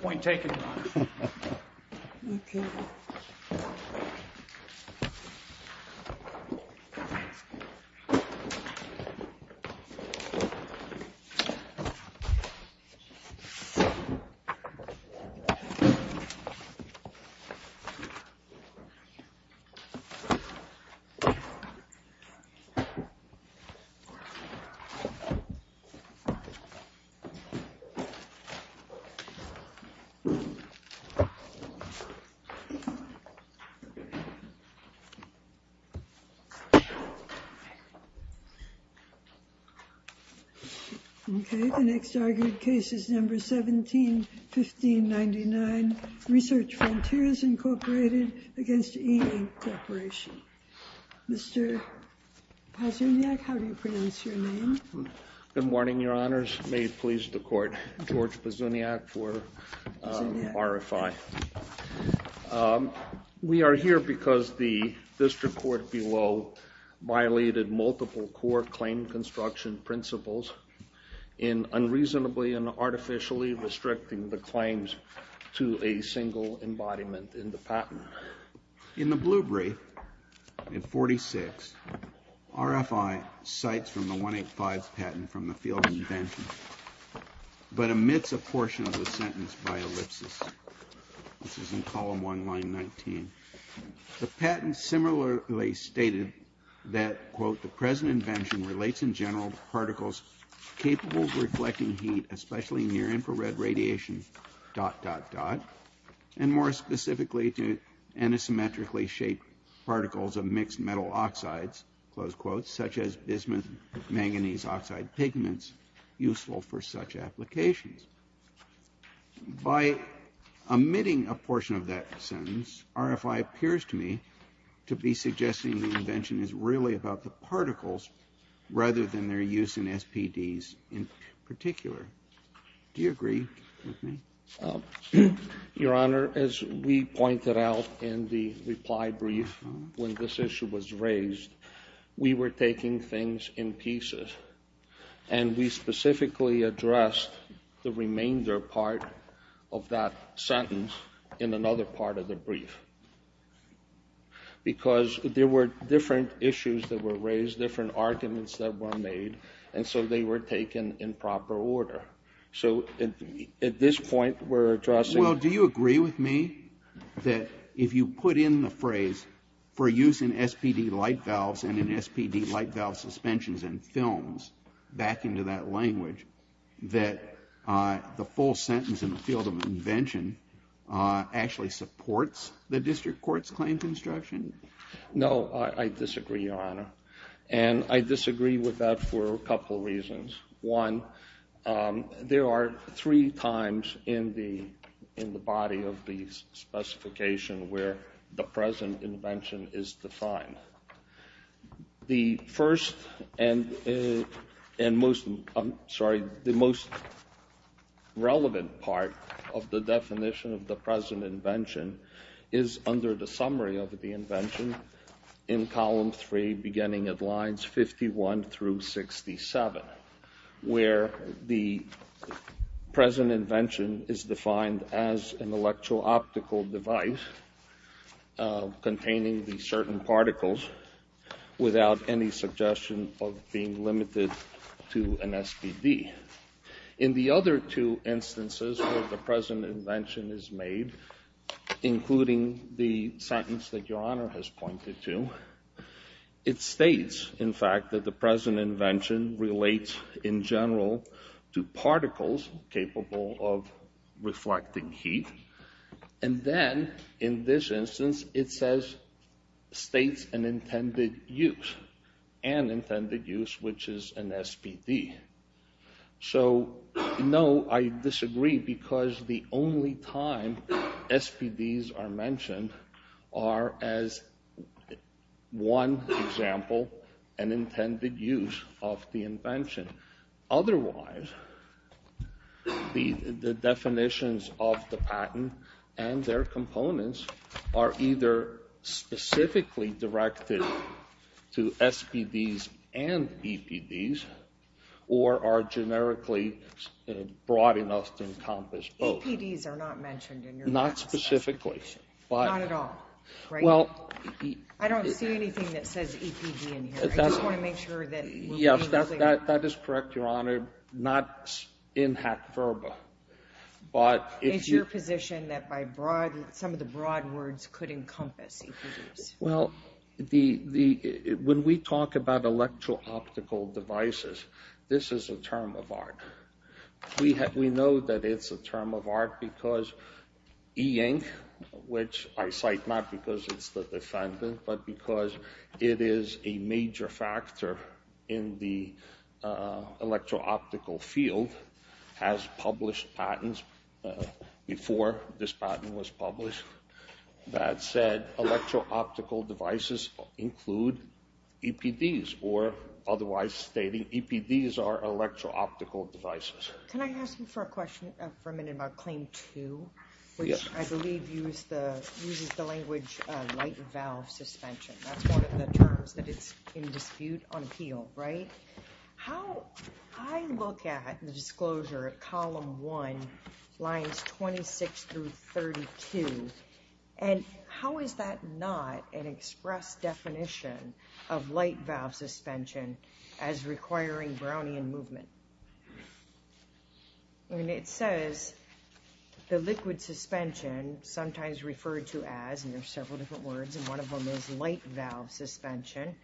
point taken. Okay, the next argued case is number 17-1599, Research Frontiers Incorporated against E-Ink Corporation. Mr. Pazuniak, how do you pronounce your name? Good morning, your honors. May it please the court, George Pazuniak for RFI. We are here because the district court below violated multiple court claim construction principles in unreasonably and artificially restricting the claims to a single embodiment in the patent. In the blue brief, in 46, RFI cites from the 185 patent from the field invention, but omits a portion of the sentence by ellipsis, which is in column 1, line 19. The patent similarly stated that, quote, the present invention relates in general to particles capable of reflecting heat, especially near infrared radiation, dot, dot, dot, and more specifically to antisymmetrically shaped particles of mixed metal oxides, close quotes, such as bismuth manganese oxide pigments useful for such applications. By omitting a portion of that sentence, RFI appears to me to be suggesting the invention is really about the particles rather than their use in SPDs in particular. Do you agree with me? Your honor, as we pointed out in the reply brief when this issue was raised, we were taking things in pieces, and we specifically addressed the remainder part of that sentence in another part of the brief. Because there were different issues that were raised, different arguments that were made, and so they were taken in proper order. So at this point, we're addressing- Well, do you agree with me that if you put in the phrase, for use in SPD light valves and in SPD light valve suspensions and films, back into that language, that the full sentence in the field of invention actually supports the district court's claim construction? No, I disagree, your honor. And I disagree with that for a couple reasons. One, there are three times in the body of the specification where the present invention is defined. The first and most relevant part of the definition of the present invention is under the summary of the invention in column three, beginning at lines 51 through 67, where the present invention relates to particles without any suggestion of being limited to an SPD. In the other two instances where the present invention is made, including the sentence that your honor has pointed to, it states, in fact, that the present invention relates in general to particles capable of reflecting heat. And then, in this instance, it states an intended use, an intended use which is an SPD. So no, I disagree, because the only time SPDs are mentioned are as one example, an intended use of the invention. Otherwise, the definitions of the patent and their components are either specifically directed to SPDs and EPDs, or are generically broad enough to encompass both. EPDs are not mentioned in your past specification. Not specifically. Not at all. Right? Well, E- I don't see anything that says EPD in here. I just want to make sure that we're being clear. Yes, that is correct, your honor, not in hack verba, but if you- It's your position that by broad, some of the broad words could encompass EPDs. Well, the, when we talk about electro-optical devices, this is a term of art. We know that it's a term of art because E-ink, which I cite not because it's the defendant, but because it is a major factor in the electro-optical field, has published patents before this patent was published that said electro-optical devices include EPDs, or otherwise stating EPDs are electro-optical devices. Can I ask you for a question for a minute about Claim 2? Yes. I believe uses the language light valve suspension. That's one of the terms that is in dispute on appeal, right? How I look at the disclosure of Column 1, Lines 26 through 32, and how is that not an express definition of light valve suspension as requiring Brownian movement? I mean, it says the liquid suspension, sometimes referred to as, and there are several different words, and one of them is light valve suspension,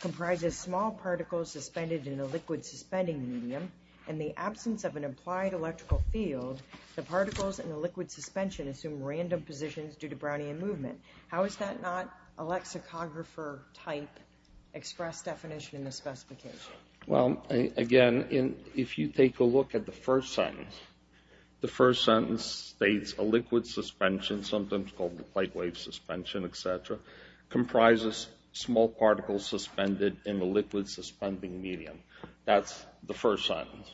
comprises small particles suspended in a liquid suspending medium. In the absence of an applied electrical field, the particles in the liquid suspension assume random positions due to Brownian movement. How is that not a lexicographer-type express definition in the specification? Well, again, if you take a look at the first sentence, the first sentence states a liquid suspension, sometimes called the plate wave suspension, etc., comprises small particles suspended in a liquid suspending medium. That's the first sentence.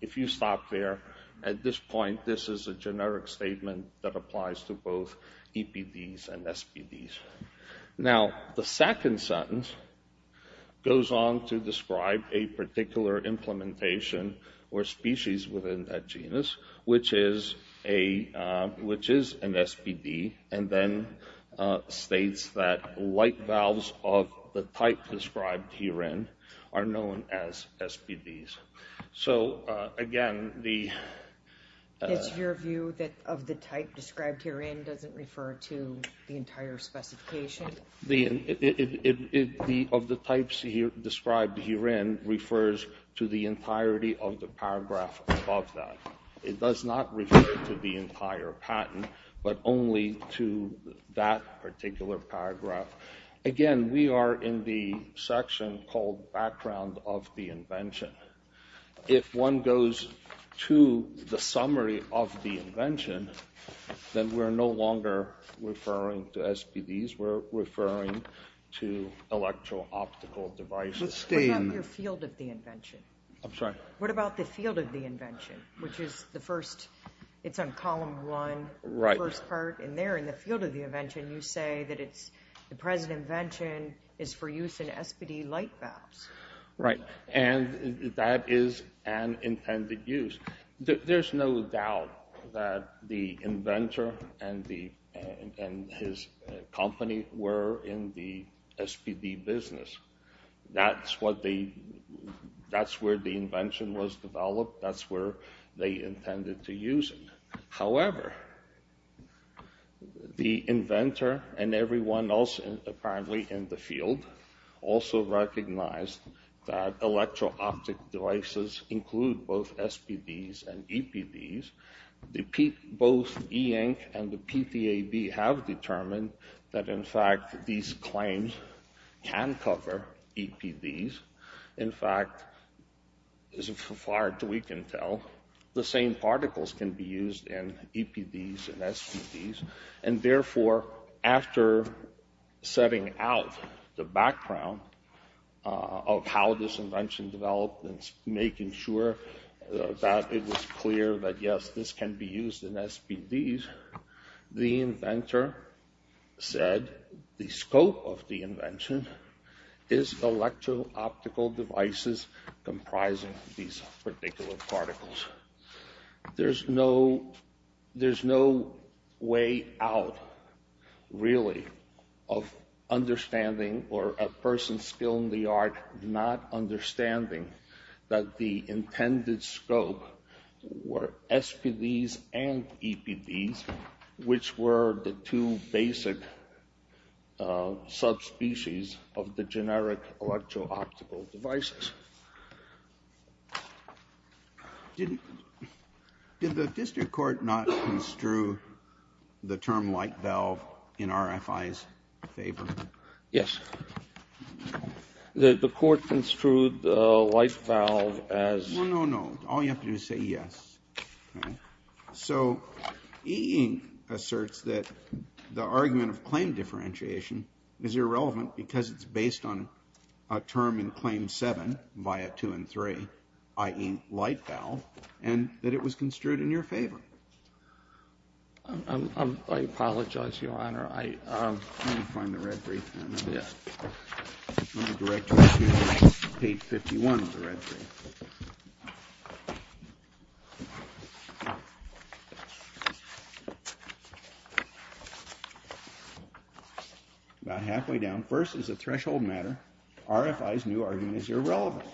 If you stop there, at this point, this is a generic statement that applies to both EPDs and SBDs. Now, the second sentence goes on to describe a particular implementation or species within that genus, which is an SBD, and then states that light valves of the type described herein are known as SBDs. So, again, the... Of the types described herein refers to the entirety of the paragraph above that. It does not refer to the entire patent, but only to that particular paragraph. Again, we are in the section called background of the invention. If one goes to the summary of the invention, then we're no longer referring to SBDs. We're referring to electro-optical devices. What about your field of the invention? I'm sorry? What about the field of the invention, which is the first... It's on column one, the first part, and there, in the field of the invention, you say that the present invention is for use in SBD light valves. Right. And that is an intended use. There's no doubt that the inventor and his company were in the SBD business. That's what they... That's where the invention was developed. That's where they intended to use it. The inventor and everyone else, apparently, in the field also recognized that electro-optic devices include both SBDs and EPDs. Both E-Ink and the PTAB have determined that, in fact, these claims can cover EPDs. In fact, as far as we can tell, the same particles can be used in EPDs and SBDs. And therefore, after setting out the background of how this invention developed and making sure that it was clear that, yes, this can be used in SBDs, the inventor said the scope of the invention is electro-optical devices comprising these particular particles. There's no way out, really, of understanding or a person's skill in the art not understanding that the intended scope were SBDs and EPDs, which were the two basic subspecies of the generic electro-optical devices. Did the district court not construe the term light valve in RFI's favor? Yes. The court construed the light valve as... No, no, no. All you have to do is say yes. So E-Ink asserts that the argument of claim differentiation is irrelevant because it's based on a term in Claim 7 via 2 and 3, i.e. light valve, and that it was construed in your favor. I apologize, Your Honor. Let me find the red brief. Let me direct you to page 51 of the red brief. About halfway down, first is a threshold matter. RFI's new argument is irrelevant.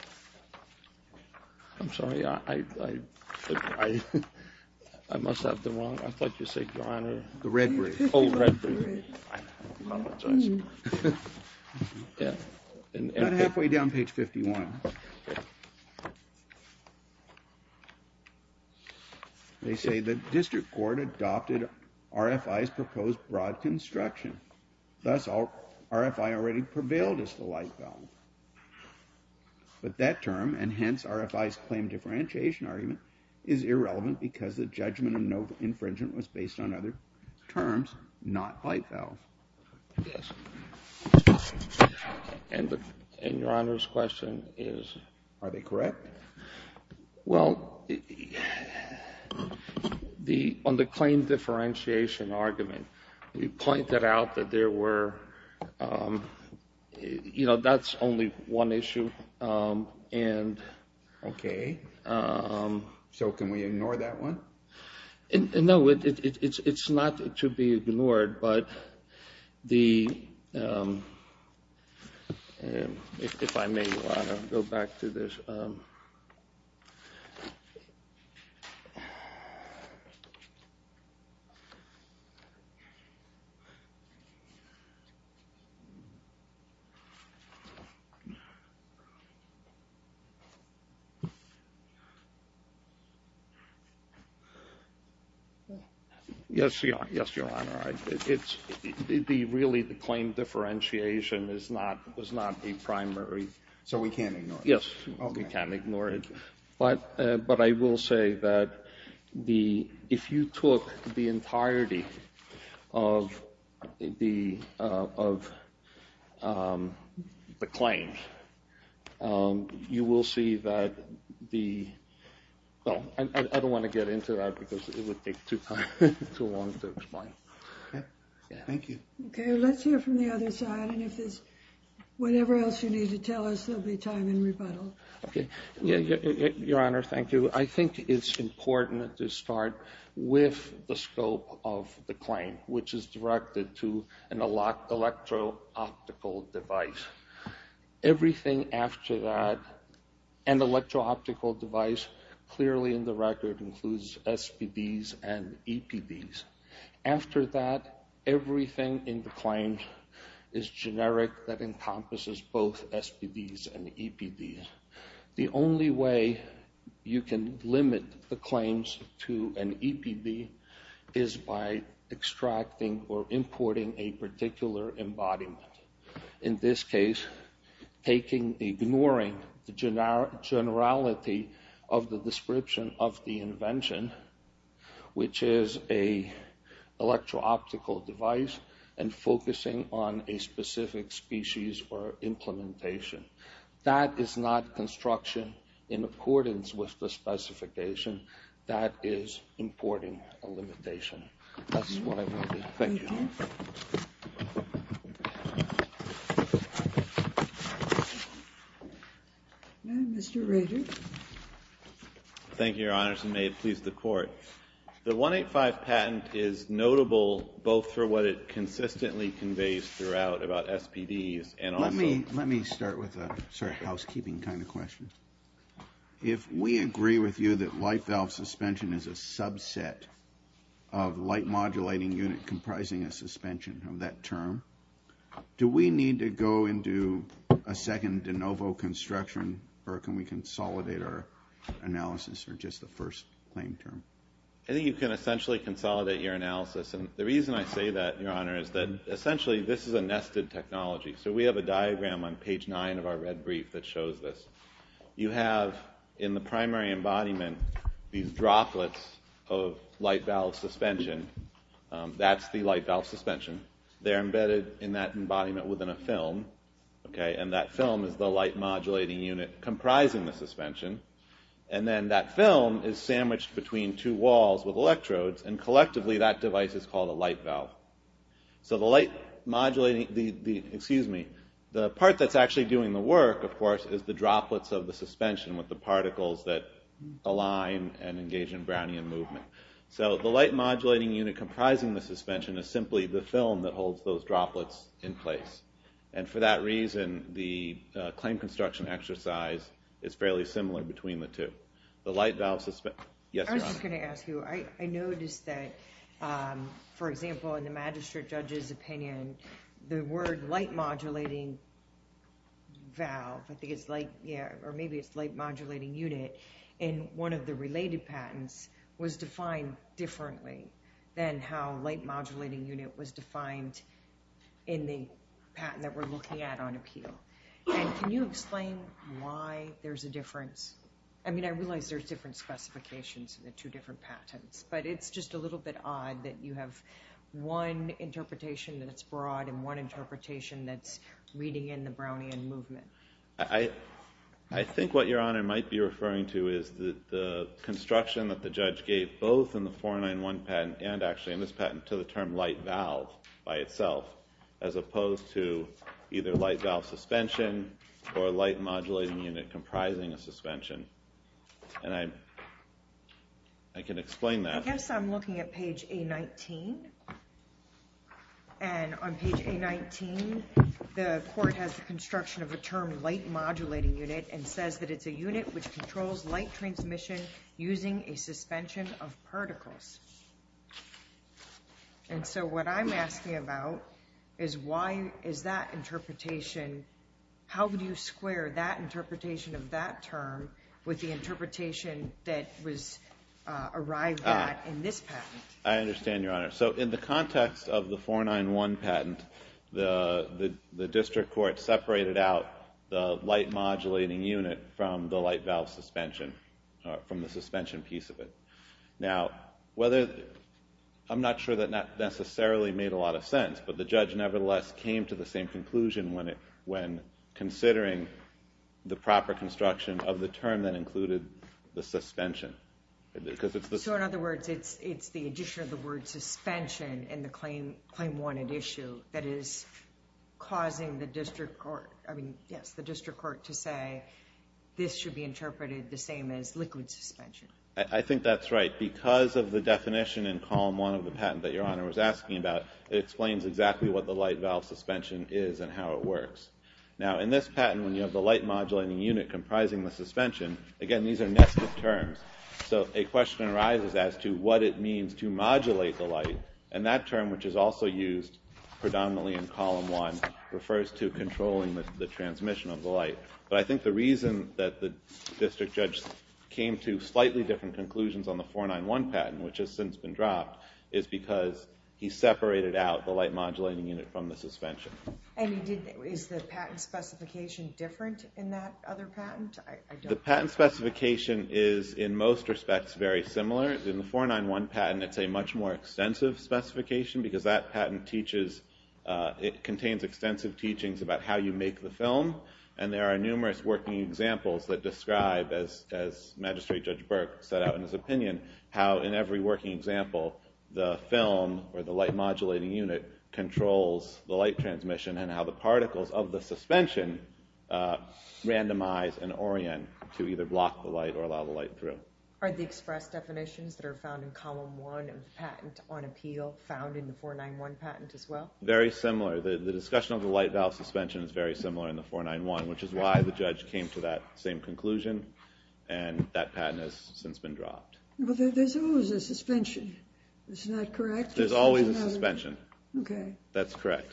I'm sorry. I must have the wrong... I thought you said, Your Honor... The red brief. Oh, the red brief. I apologize. About halfway down, page 51. They say the district court adopted RFI's proposed broad construction. Thus, RFI already prevailed as the light valve. But that term, and hence RFI's claim differentiation argument, is irrelevant because the judgment of no infringement was based on other terms, not light valve. Yes. And Your Honor's question is... Are they correct? Well, on the claim differentiation argument, you pointed out that there were... You know, that's only one issue. Okay. So can we ignore that one? No, it's not to be ignored, but the... If I may, Your Honor, go back to this. Yes, Your Honor. Really, the claim differentiation is not a primary... So we can't ignore it? Yes, we can't ignore it. But I will say that if you took the entirety of the claim, you will see that the... Well, I don't want to get into that because it would take too long to explain. Okay, thank you. Okay, let's hear from the other side, and if there's whatever else you need to tell us, there'll be time in rebuttal. Okay, Your Honor, thank you. I think it's important to start with the scope of the claim, which is directed to an electro-optical device. Everything after that, an electro-optical device, clearly in the record includes SBDs and EPDs. After that, everything in the claim is generic that encompasses both SBDs and EPDs. The only way you can limit the claims to an EPD is by extracting or importing a particular embodiment. In this case, ignoring the generality of the description of the invention, which is an electro-optical device, and focusing on a specific species or implementation. That is not construction in accordance with the specification. That is importing a limitation. That's what I wanted to say. Thank you. Mr. Rader. Thank you, Your Honors, and may it please the Court. The 185 patent is notable both for what it consistently conveys throughout about SBDs and also— If we agree with you that light valve suspension is a subset of light modulating unit comprising a suspension of that term, do we need to go into a second de novo construction, or can we consolidate our analysis for just the first claim term? I think you can essentially consolidate your analysis. And the reason I say that, Your Honor, is that essentially this is a nested technology. So we have a diagram on page 9 of our red brief that shows this. You have in the primary embodiment these droplets of light valve suspension. That's the light valve suspension. They're embedded in that embodiment within a film, and that film is the light modulating unit comprising the suspension. And then that film is sandwiched between two walls with electrodes, and collectively that device is called a light valve. So the light modulating—excuse me. The part that's actually doing the work, of course, is the droplets of the suspension with the particles that align and engage in Brownian movement. So the light modulating unit comprising the suspension is simply the film that holds those droplets in place. And for that reason, the claim construction exercise is fairly similar between the two. The light valve—yes, Your Honor. I was going to ask you, I noticed that, for example, in the magistrate judge's opinion, the word light modulating valve, I think it's light—or maybe it's light modulating unit, in one of the related patents was defined differently than how light modulating unit was defined in the patent that we're looking at on appeal. I mean, I realize there's different specifications in the two different patents, but it's just a little bit odd that you have one interpretation that's broad and one interpretation that's reading in the Brownian movement. I think what Your Honor might be referring to is the construction that the judge gave both in the 491 patent and actually in this patent to the term light valve by itself, as opposed to either light valve suspension or light modulating unit comprising a suspension. And I can explain that. I guess I'm looking at page A19. And on page A19, the court has the construction of a term light modulating unit and says that it's a unit which controls light transmission using a suspension of particles. And so what I'm asking about is why is that interpretation— how do you square that interpretation of that term with the interpretation that was arrived at in this patent? I understand, Your Honor. So in the context of the 491 patent, the district court separated out the light modulating unit from the light valve suspension—from the suspension piece of it. Now, I'm not sure that necessarily made a lot of sense, but the judge nevertheless came to the same conclusion when considering the proper construction of the term that included the suspension. So in other words, it's the addition of the word suspension in the claim-wanted issue that is causing the district court to say this should be interpreted the same as liquid suspension. I think that's right. Because of the definition in Column 1 of the patent that Your Honor was asking about, it explains exactly what the light valve suspension is and how it works. Now, in this patent, when you have the light modulating unit comprising the suspension, again, these are nested terms. So a question arises as to what it means to modulate the light, and that term, which is also used predominantly in Column 1, refers to controlling the transmission of the light. But I think the reason that the district judge came to slightly different conclusions on the 491 patent, which has since been dropped, is because he separated out the light modulating unit from the suspension. And is the patent specification different in that other patent? The patent specification is, in most respects, very similar. In the 491 patent, it's a much more extensive specification because that patent contains extensive teachings about how you make the film, and there are numerous working examples that describe, as Magistrate Judge Burke set out in his opinion, how in every working example the film or the light modulating unit controls the light transmission and how the particles of the suspension randomize and orient to either block the light or allow the light through. Are the express definitions that are found in Column 1 of the patent on appeal found in the 491 patent as well? Very similar. The discussion of the light valve suspension is very similar in the 491, which is why the judge came to that same conclusion, and that patent has since been dropped. But there's always a suspension. Isn't that correct? There's always a suspension. That's correct.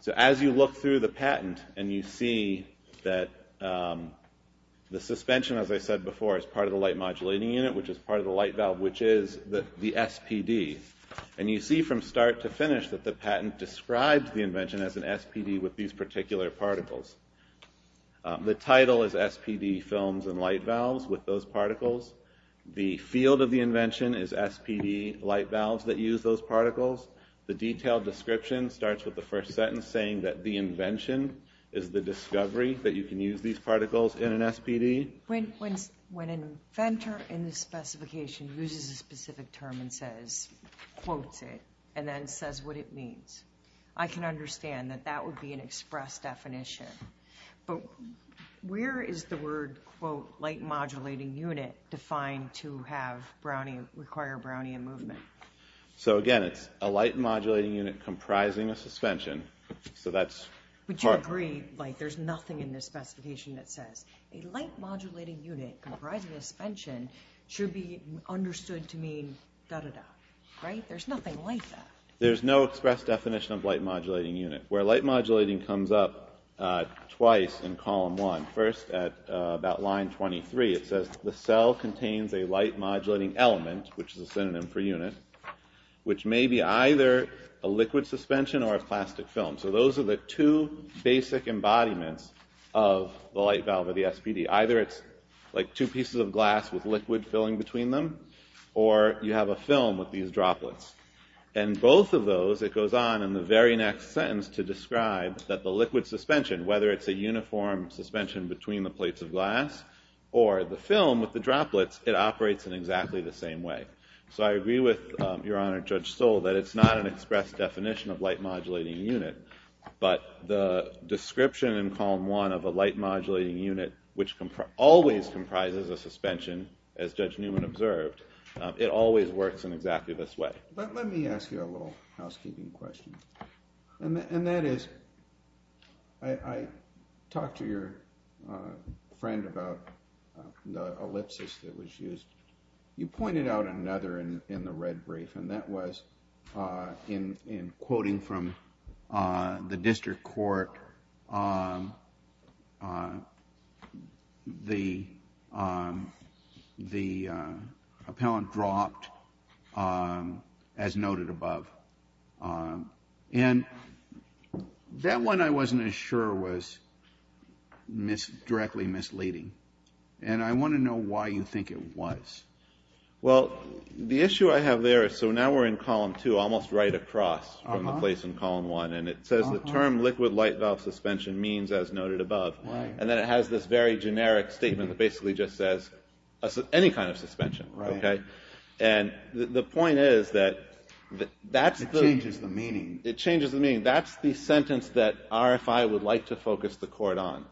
So as you look through the patent, and you see that the suspension, as I said before, is part of the light modulating unit, which is part of the light valve, which is the SPD. And you see from start to finish that the patent describes the invention as an SPD with these particular particles. The title is SPD films and light valves with those particles. The field of the invention is SPD light valves that use those particles. The detailed description starts with the first sentence saying that the invention is the discovery that you can use these particles in an SPD. When an inventor in the specification uses a specific term and quotes it and then says what it means, I can understand that that would be an express definition. But where is the word, quote, light modulating unit defined to require Brownian movement? So, again, it's a light modulating unit comprising a suspension. But you agree, like, there's nothing in the specification that says a light modulating unit comprising a suspension should be understood to mean da-da-da. Right? There's nothing like that. There's no express definition of light modulating unit. Where light modulating comes up twice in column one, first at about line 23, it says the cell contains a light modulating element, which is a synonym for unit, which may be either a liquid suspension or a plastic film. So those are the two basic embodiments of the light valve or the SPD. Either it's like two pieces of glass with liquid filling between them or you have a film with these droplets. And both of those, it goes on in the very next sentence to describe that the liquid suspension, whether it's a uniform suspension between the plates of glass or the film with the droplets, it operates in exactly the same way. So I agree with Your Honor, Judge Stoll, that it's not an express definition of light modulating unit, but the description in column one of a light modulating unit, which always comprises a suspension, as Judge Newman observed, it always works in exactly this way. Let me ask you a little housekeeping question. And that is, I talked to your friend about the ellipsis that was used. You pointed out another in the red brief, and that was in quoting from the district court, the appellant dropped, as noted above. And that one I wasn't as sure was directly misleading. And I want to know why you think it was. Well, the issue I have there is, so now we're in column two, almost right across from the place in column one, and it says the term liquid light valve suspension means, as noted above. And then it has this very generic statement that basically just says any kind of suspension. And the point is that that's the... It changes the meaning. It changes the meaning. That's the sentence that RFI would like to focus the court on.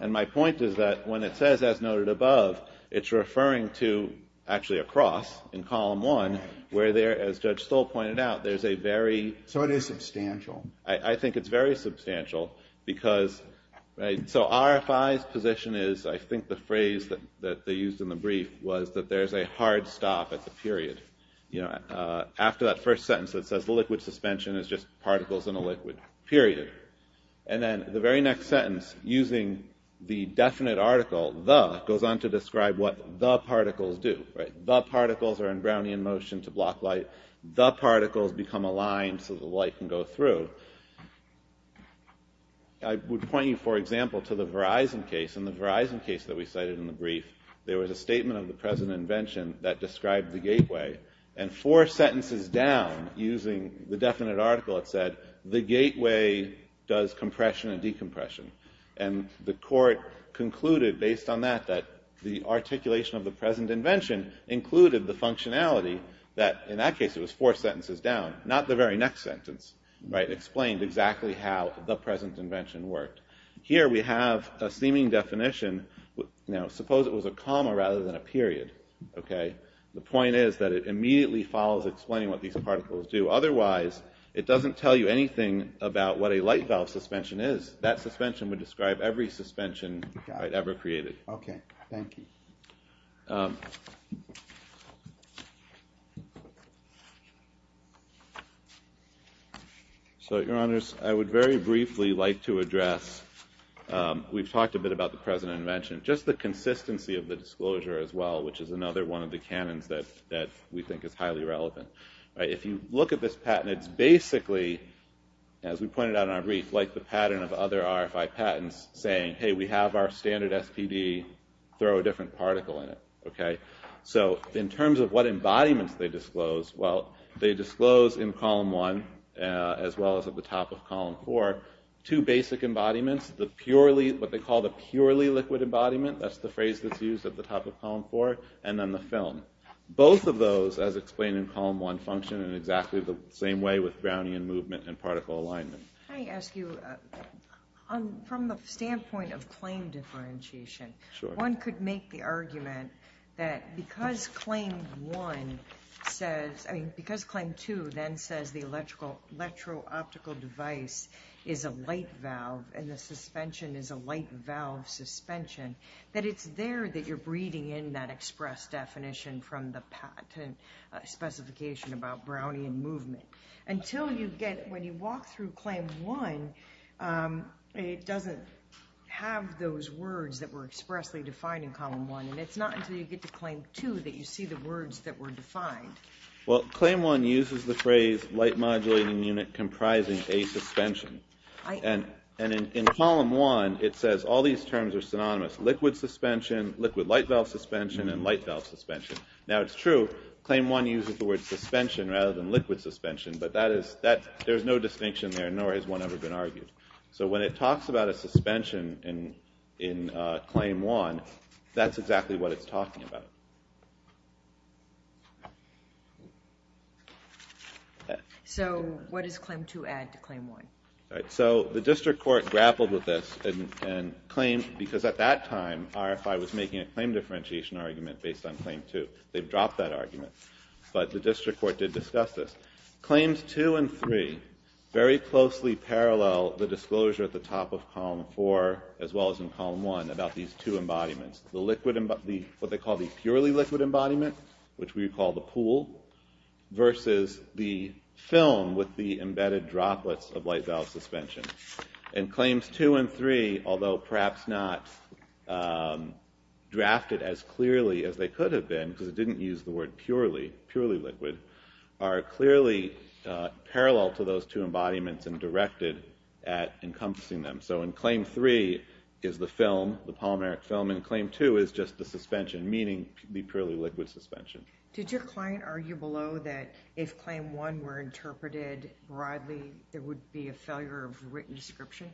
And my point is that when it says, as noted above, it's referring to actually across in column one, where there, as Judge Stoll pointed out, there's a very... So it is substantial. I think it's very substantial because... So RFI's position is, I think the phrase that they used in the brief was that there's a hard stop at the period. After that first sentence that says the liquid suspension is just particles in a liquid, period. And then the very next sentence, using the definite article, the, goes on to describe what the particles do. The particles are in Brownian motion to block light. The particles become aligned so the light can go through. I would point you, for example, to the Verizon case. In the Verizon case that we cited in the brief, there was a statement of the present invention that described the gateway. And four sentences down, using the definite article, it said, the gateway does compression and decompression. And the court concluded, based on that, that the articulation of the present invention included the functionality that, in that case, it was four sentences down, not the very next sentence, right, explained exactly how the present invention worked. Here we have a seeming definition. Now, suppose it was a comma rather than a period, okay? The point is that it immediately follows explaining what these particles do. Otherwise, it doesn't tell you anything about what a light valve suspension is. That suspension would describe every suspension I'd ever created. Okay, thank you. So, Your Honors, I would very briefly like to address, we've talked a bit about the present invention, just the consistency of the disclosure as well, which is another one of the canons that we think is highly relevant. If you look at this patent, it's basically, as we pointed out in our brief, like the pattern of other RFI patents, saying, hey, we have our standard SPD, throw a different particle in it, okay? So, in terms of what embodiments they disclose, well, they disclose in Column 1, as well as at the top of Column 4, two basic embodiments, what they call the purely liquid embodiment, that's the phrase that's used at the top of Column 4, and then the film. Both of those, as explained in Column 1, function in exactly the same way with Brownian movement and particle alignment. Can I ask you, from the standpoint of claim differentiation, one could make the argument that because Claim 1 says, I mean, because Claim 2 then says the electro-optical device is a light valve and the suspension is a light valve suspension, that it's there that you're breeding in that express definition from the patent specification about Brownian movement. Until you get, when you walk through Claim 1, it doesn't have those words that were expressly defined in Column 1, and it's not until you get to Claim 2 that you see the words that were defined. Well, Claim 1 uses the phrase light modulating unit comprising a suspension. And in Column 1, it says all these terms are synonymous, liquid suspension, liquid light valve suspension, and light valve suspension. Now it's true, Claim 1 uses the word suspension rather than liquid suspension, but there's no distinction there, nor has one ever been argued. So when it talks about a suspension in Claim 1, that's exactly what it's talking about. So what does Claim 2 add to Claim 1? So the district court grappled with this, because at that time, RFI was making a claim differentiation argument based on Claim 2. They've dropped that argument, but the district court did discuss this. Claims 2 and 3 very closely parallel the disclosure at the top of Column 4 as well as in Column 1 about these two embodiments, what they call the purely liquid embodiment, which we call the pool, versus the film with the embedded droplets of light valve suspension. And Claims 2 and 3, although perhaps not drafted as clearly as they could have been, because it didn't use the word purely liquid, are clearly parallel to those two embodiments and directed at encompassing them. So in Claim 3 is the film, the polymeric film, and Claim 2 is just the suspension, meaning the purely liquid suspension. Did your client argue below that if Claim 1 were interpreted broadly, there would be a failure of written description?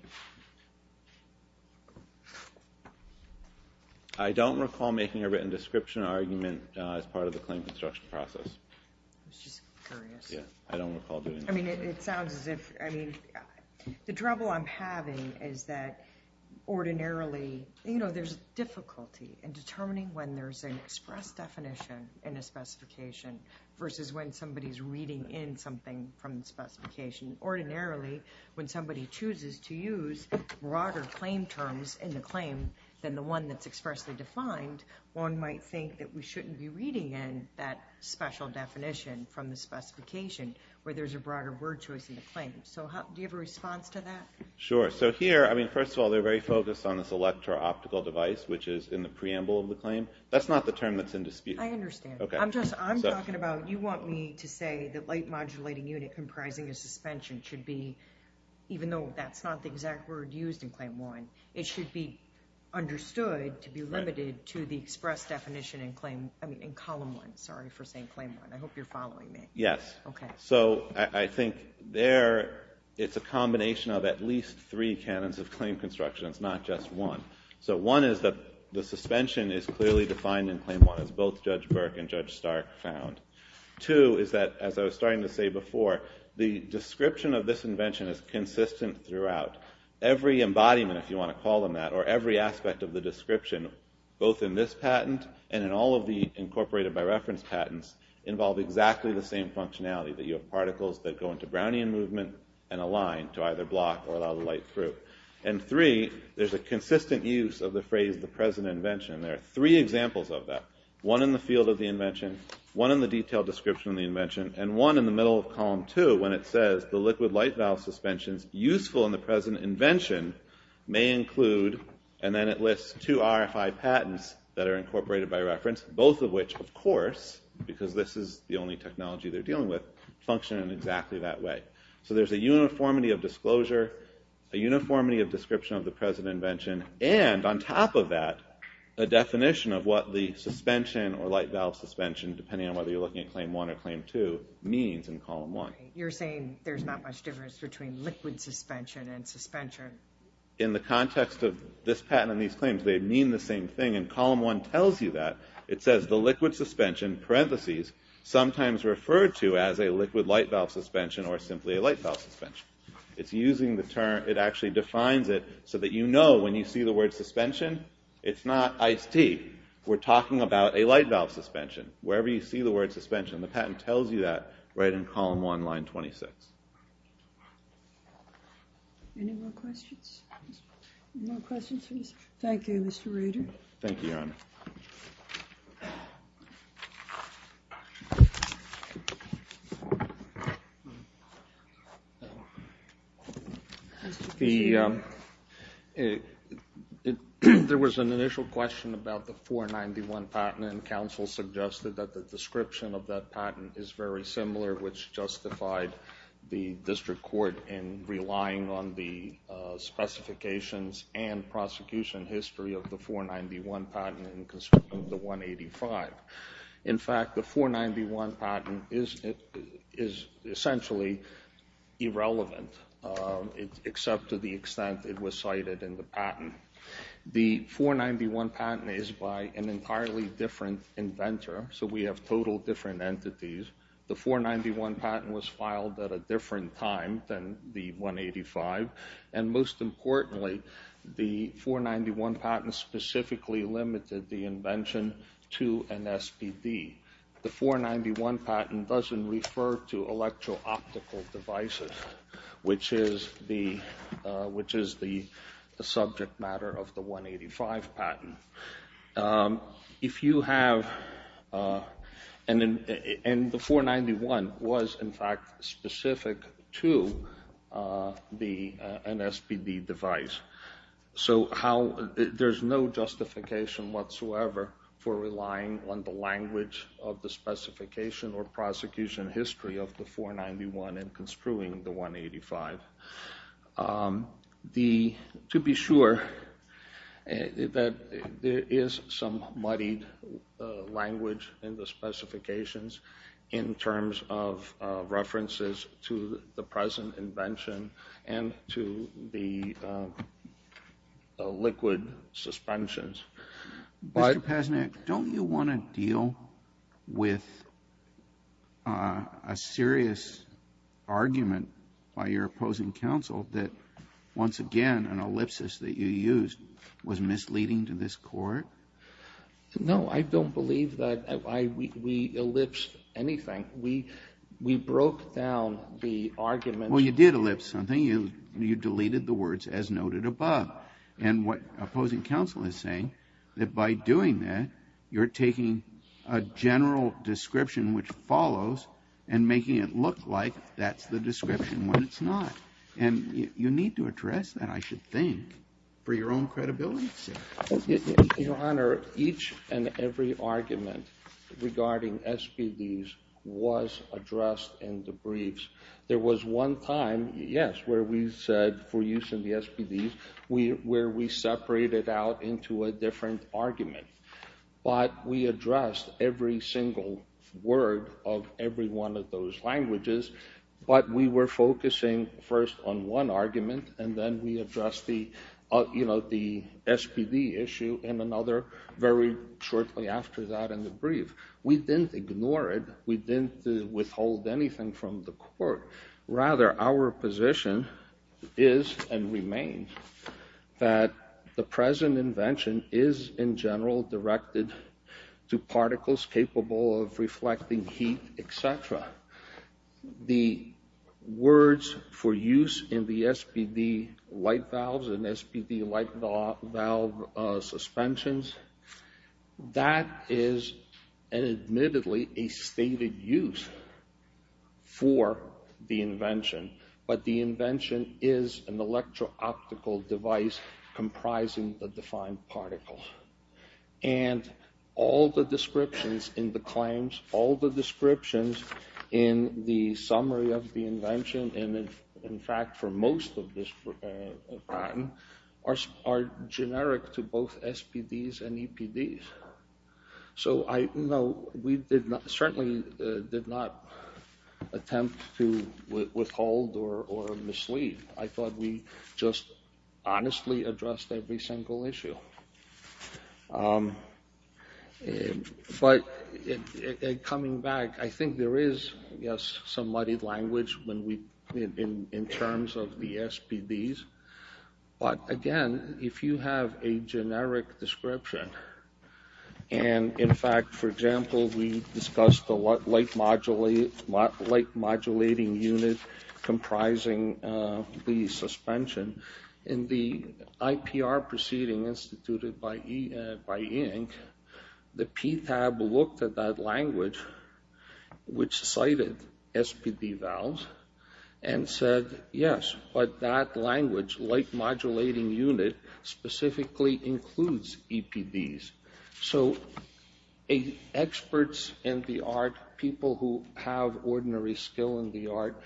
I don't recall making a written description argument as part of the claim construction process. I was just curious. Yeah, I don't recall doing that. I mean, it sounds as if, I mean, the trouble I'm having is that ordinarily, you know, there's difficulty in determining when there's an express definition in a specification versus when somebody's reading in something from the specification. Ordinarily, when somebody chooses to use broader claim terms in the claim than the one that's expressly defined, one might think that we shouldn't be reading in that special definition from the specification where there's a broader word choice in the claim. So do you have a response to that? Sure. So here, I mean, first of all, they're very focused on this electro-optical device, which is in the preamble of the claim. That's not the term that's in dispute. I understand. I'm just, I'm talking about, you want me to say that light modulating unit comprising a suspension should be, even though that's not the exact word used in Claim 1, it should be understood to be limited to the express definition in Claim, I mean, in Column 1. Sorry for saying Claim 1. I hope you're following me. Yes. Okay. So I think there, it's a combination of at least three canons of claim construction. It's not just one. So one is that the suspension is clearly defined in Claim 1, as both Judge Burke and Judge Stark found. Two is that, as I was starting to say before, the description of this invention is consistent throughout. Every embodiment, if you want to call them that, or every aspect of the description, both in this patent and in all of the incorporated by reference patents, involve exactly the same functionality, that you have particles that go into Brownian movement and align to either block or allow the light through. And three, there's a consistent use of the phrase, the present invention. There are three examples of that, one in the field of the invention, one in the detailed description of the invention, and one in the middle of Column 2, when it says the liquid light valve suspensions useful in the present invention may include, and then it lists two RFI patents that are incorporated by reference, both of which, of course, because this is the only technology they're dealing with, function in exactly that way. So there's a uniformity of disclosure, a uniformity of description of the present invention, and on top of that, a definition of what the suspension or light valve suspension, depending on whether you're looking at Claim 1 or Claim 2, means in Column 1. You're saying there's not much difference between liquid suspension and suspension. In the context of this patent and these claims, they mean the same thing, and Column 1 tells you that. It says the liquid suspension, parentheses, sometimes referred to as a liquid light valve suspension or simply a light valve suspension. It's using the term, it actually defines it so that you know when you see the word suspension, it's not iced tea. We're talking about a light valve suspension. Wherever you see the word suspension, the patent tells you that right in Column 1, line 26. Any more questions? Any more questions for this? Thank you, Mr. Rader. Thank you, Your Honor. Thank you. There was an initial question about the 491 patent, and counsel suggested that the description of that patent is very similar, which justified the district court in relying on the specifications and prosecution history of the 491 patent in concern of the 185. In fact, the 491 patent is essentially irrelevant, except to the extent it was cited in the patent. The 491 patent is by an entirely different inventor, so we have total different entities. The 491 patent was filed at a different time than the 185, and most importantly, the 491 patent specifically limited the invention to an SPD. The 491 patent doesn't refer to electro-optical devices, which is the subject matter of the 185 patent. If you have... And the 491 was, in fact, specific to an SPD device. So there's no justification whatsoever for relying on the language of the specification or prosecution history of the 491 in construing the 185. To be sure, there is some muddied language in the specifications in terms of references to the present invention and to the liquid suspensions. Mr. Pasnick, don't you want to deal with a serious argument by your opposing counsel that, once again, an ellipsis that you used was misleading to this Court? No, I don't believe that we ellipsed anything. We broke down the argument... Well, you did ellipse something. You deleted the words, as noted above. And what opposing counsel is saying, that by doing that, you're taking a general description which follows and making it look like that's the description when it's not? And you need to address that, I should think, for your own credibility. Your Honor, each and every argument regarding SPDs was addressed in the briefs. There was one time, yes, where we said, for use in the SPDs, where we separated out into a different argument. But we addressed every single word of every one of those languages. But we were focusing first on one argument, and then we addressed the SPD issue in another, very shortly after that in the brief. We didn't ignore it. We didn't withhold anything from the Court. Rather, our position is and remains that the present invention is, in general, directed to particles capable of reflecting heat, et cetera. The words for use in the SPD light valves and SPD light valve suspensions, that is admittedly a stated use for the invention. But the invention is an electro-optical device comprising the defined particles. And all the descriptions in the claims, all the descriptions in the summary of the invention, and in fact for most of this patent, are generic to both SPDs and EPDs. So we certainly did not attempt to withhold or mislead. I thought we just honestly addressed every single issue. But coming back, I think there is, yes, some muddy language in terms of the SPDs. But again, if you have a generic description, and in fact, for example, we discussed the light modulating unit comprising the suspension. In the IPR proceeding instituted by INC, the PTAB looked at that language, which cited SPD valves, and said, yes, but that language, light modulating unit, specifically includes EPDs. So experts in the art, people who have ordinary skill in the art,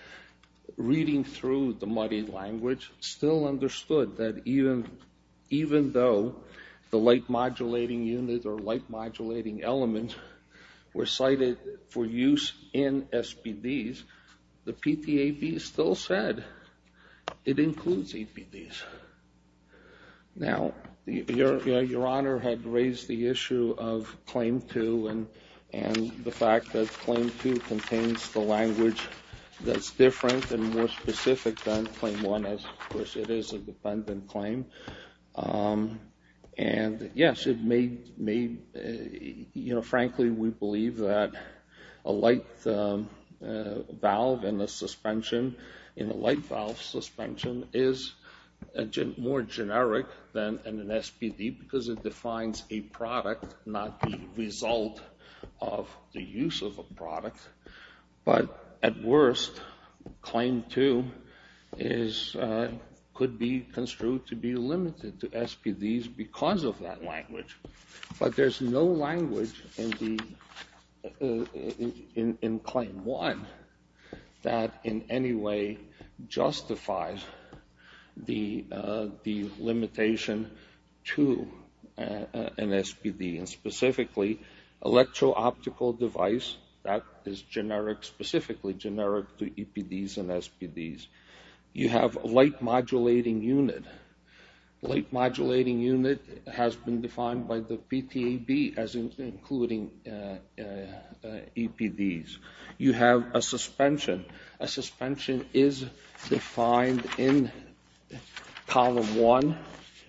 reading through the muddy language, still understood that even though the light modulating unit or light modulating element were cited for use in SPDs, the PTAB still said it includes EPDs. Now, Your Honor had raised the issue of Claim 2 and the fact that Claim 2 contains the language that's different and more specific than Claim 1, as of course it is a dependent claim. And yes, it may, you know, frankly, we believe that a light valve in the suspension, in a light valve suspension is more generic than an SPD because it defines a product, not the result of the use of a product. But at worst, Claim 2 could be construed to be limited to SPDs because of that language. But there's no language in Claim 1 that in any way justifies the limitation to an SPD. And specifically, electro-optical device, that is specifically generic to EPDs and SPDs. You have light modulating unit. Light modulating unit has been defined by the PTAB as including EPDs. You have a suspension. A suspension is defined in Column 1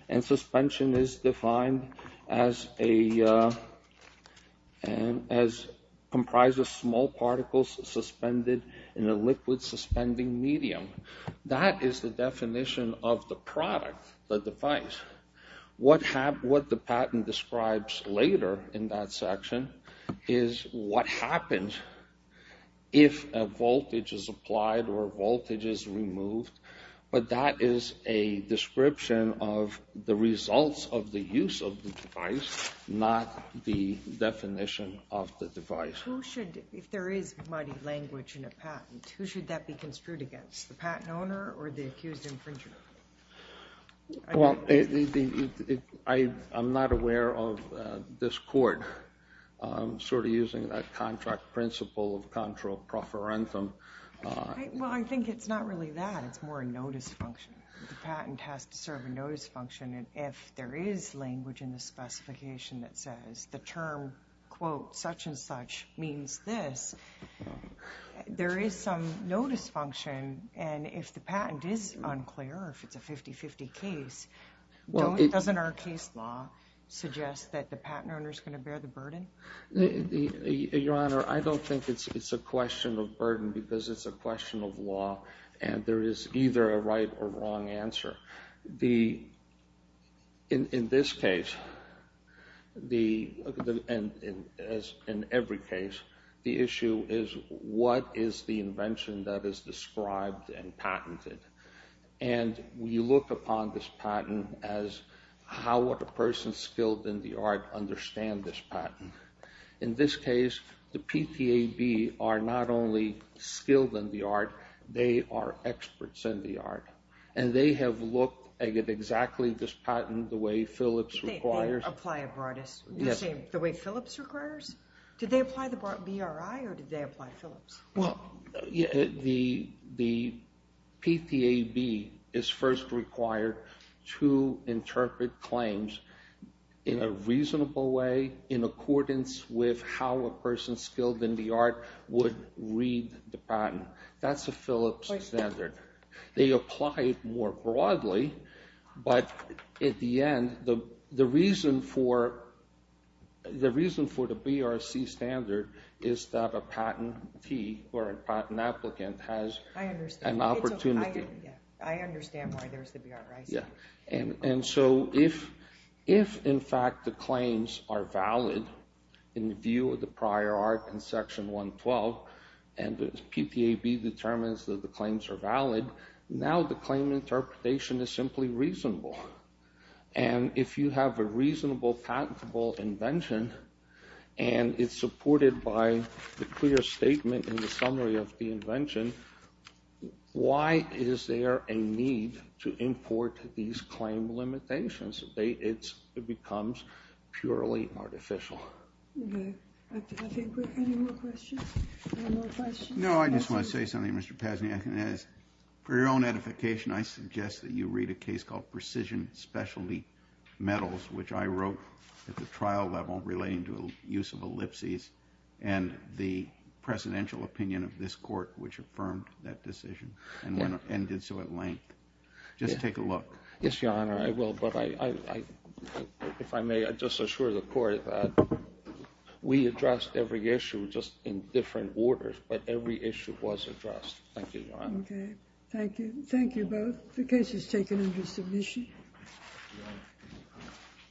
and suspension is defined as comprised of small particles suspended in a liquid suspending medium. That is the definition of the product, the device. What the patent describes later in that section is what happens if a voltage is applied or a voltage is removed. But that is a description of the results of the use of the device, not the definition of the device. Who should, if there is mighty language in a patent, who should that be construed against, the patent owner or the accused infringer? Well, I'm not aware of this court sort of using that contract principle of contra proferentum. Well, I think it's not really that. It's more a notice function. The patent has to serve a notice function if there is language in the specification that says the term, quote, such and such means this. There is some notice function and if the patent is unclear or if it's a 50-50 case, doesn't our case law suggest that the patent owner is going to bear the burden? Your Honor, I don't think it's a question of burden because it's a question of law and there is either a right or wrong answer. In this case, and in every case, the issue is what is the invention that is described and patented? And we look upon this patent as how would a person skilled in the art understand this patent? In this case, the PTAB are not only skilled in the art, they are experts in the art and they have looked at exactly this patent the way Philips requires. They apply a broadest, you're saying the way Philips requires? Did they apply the BRI or did they apply Philips? Well, the PTAB is first required to interpret claims in a reasonable way in accordance with how a person skilled in the art would read the patent. That's a Philips standard. They apply it more broadly, but at the end, the reason for the BRC standard is that a patentee or a patent applicant has an opportunity. I understand why there's the BRC. And so if, in fact, the claims are valid in view of the prior art in Section 112 and the PTAB determines that the claims are valid, now the claim interpretation is simply reasonable. And if you have a reasonable patentable invention and it's supported by the clear statement in the summary of the invention, why is there a need to import these claim limitations? It becomes purely artificial. Okay. Any more questions? No, I just want to say something, Mr. Pasniak. For your own edification, I suggest that you read a case called Precision Specialty Metals, which I wrote at the trial level relating to the use of ellipses and the presidential opinion of this court, which affirmed that decision and did so at length. Just take a look. Yes, Your Honor, I will, but if I may, I just assure the Court that we addressed every issue just in different orders, but every issue was addressed. Thank you, Your Honor. Okay. Thank you. Thank you both. The case is taken under submission.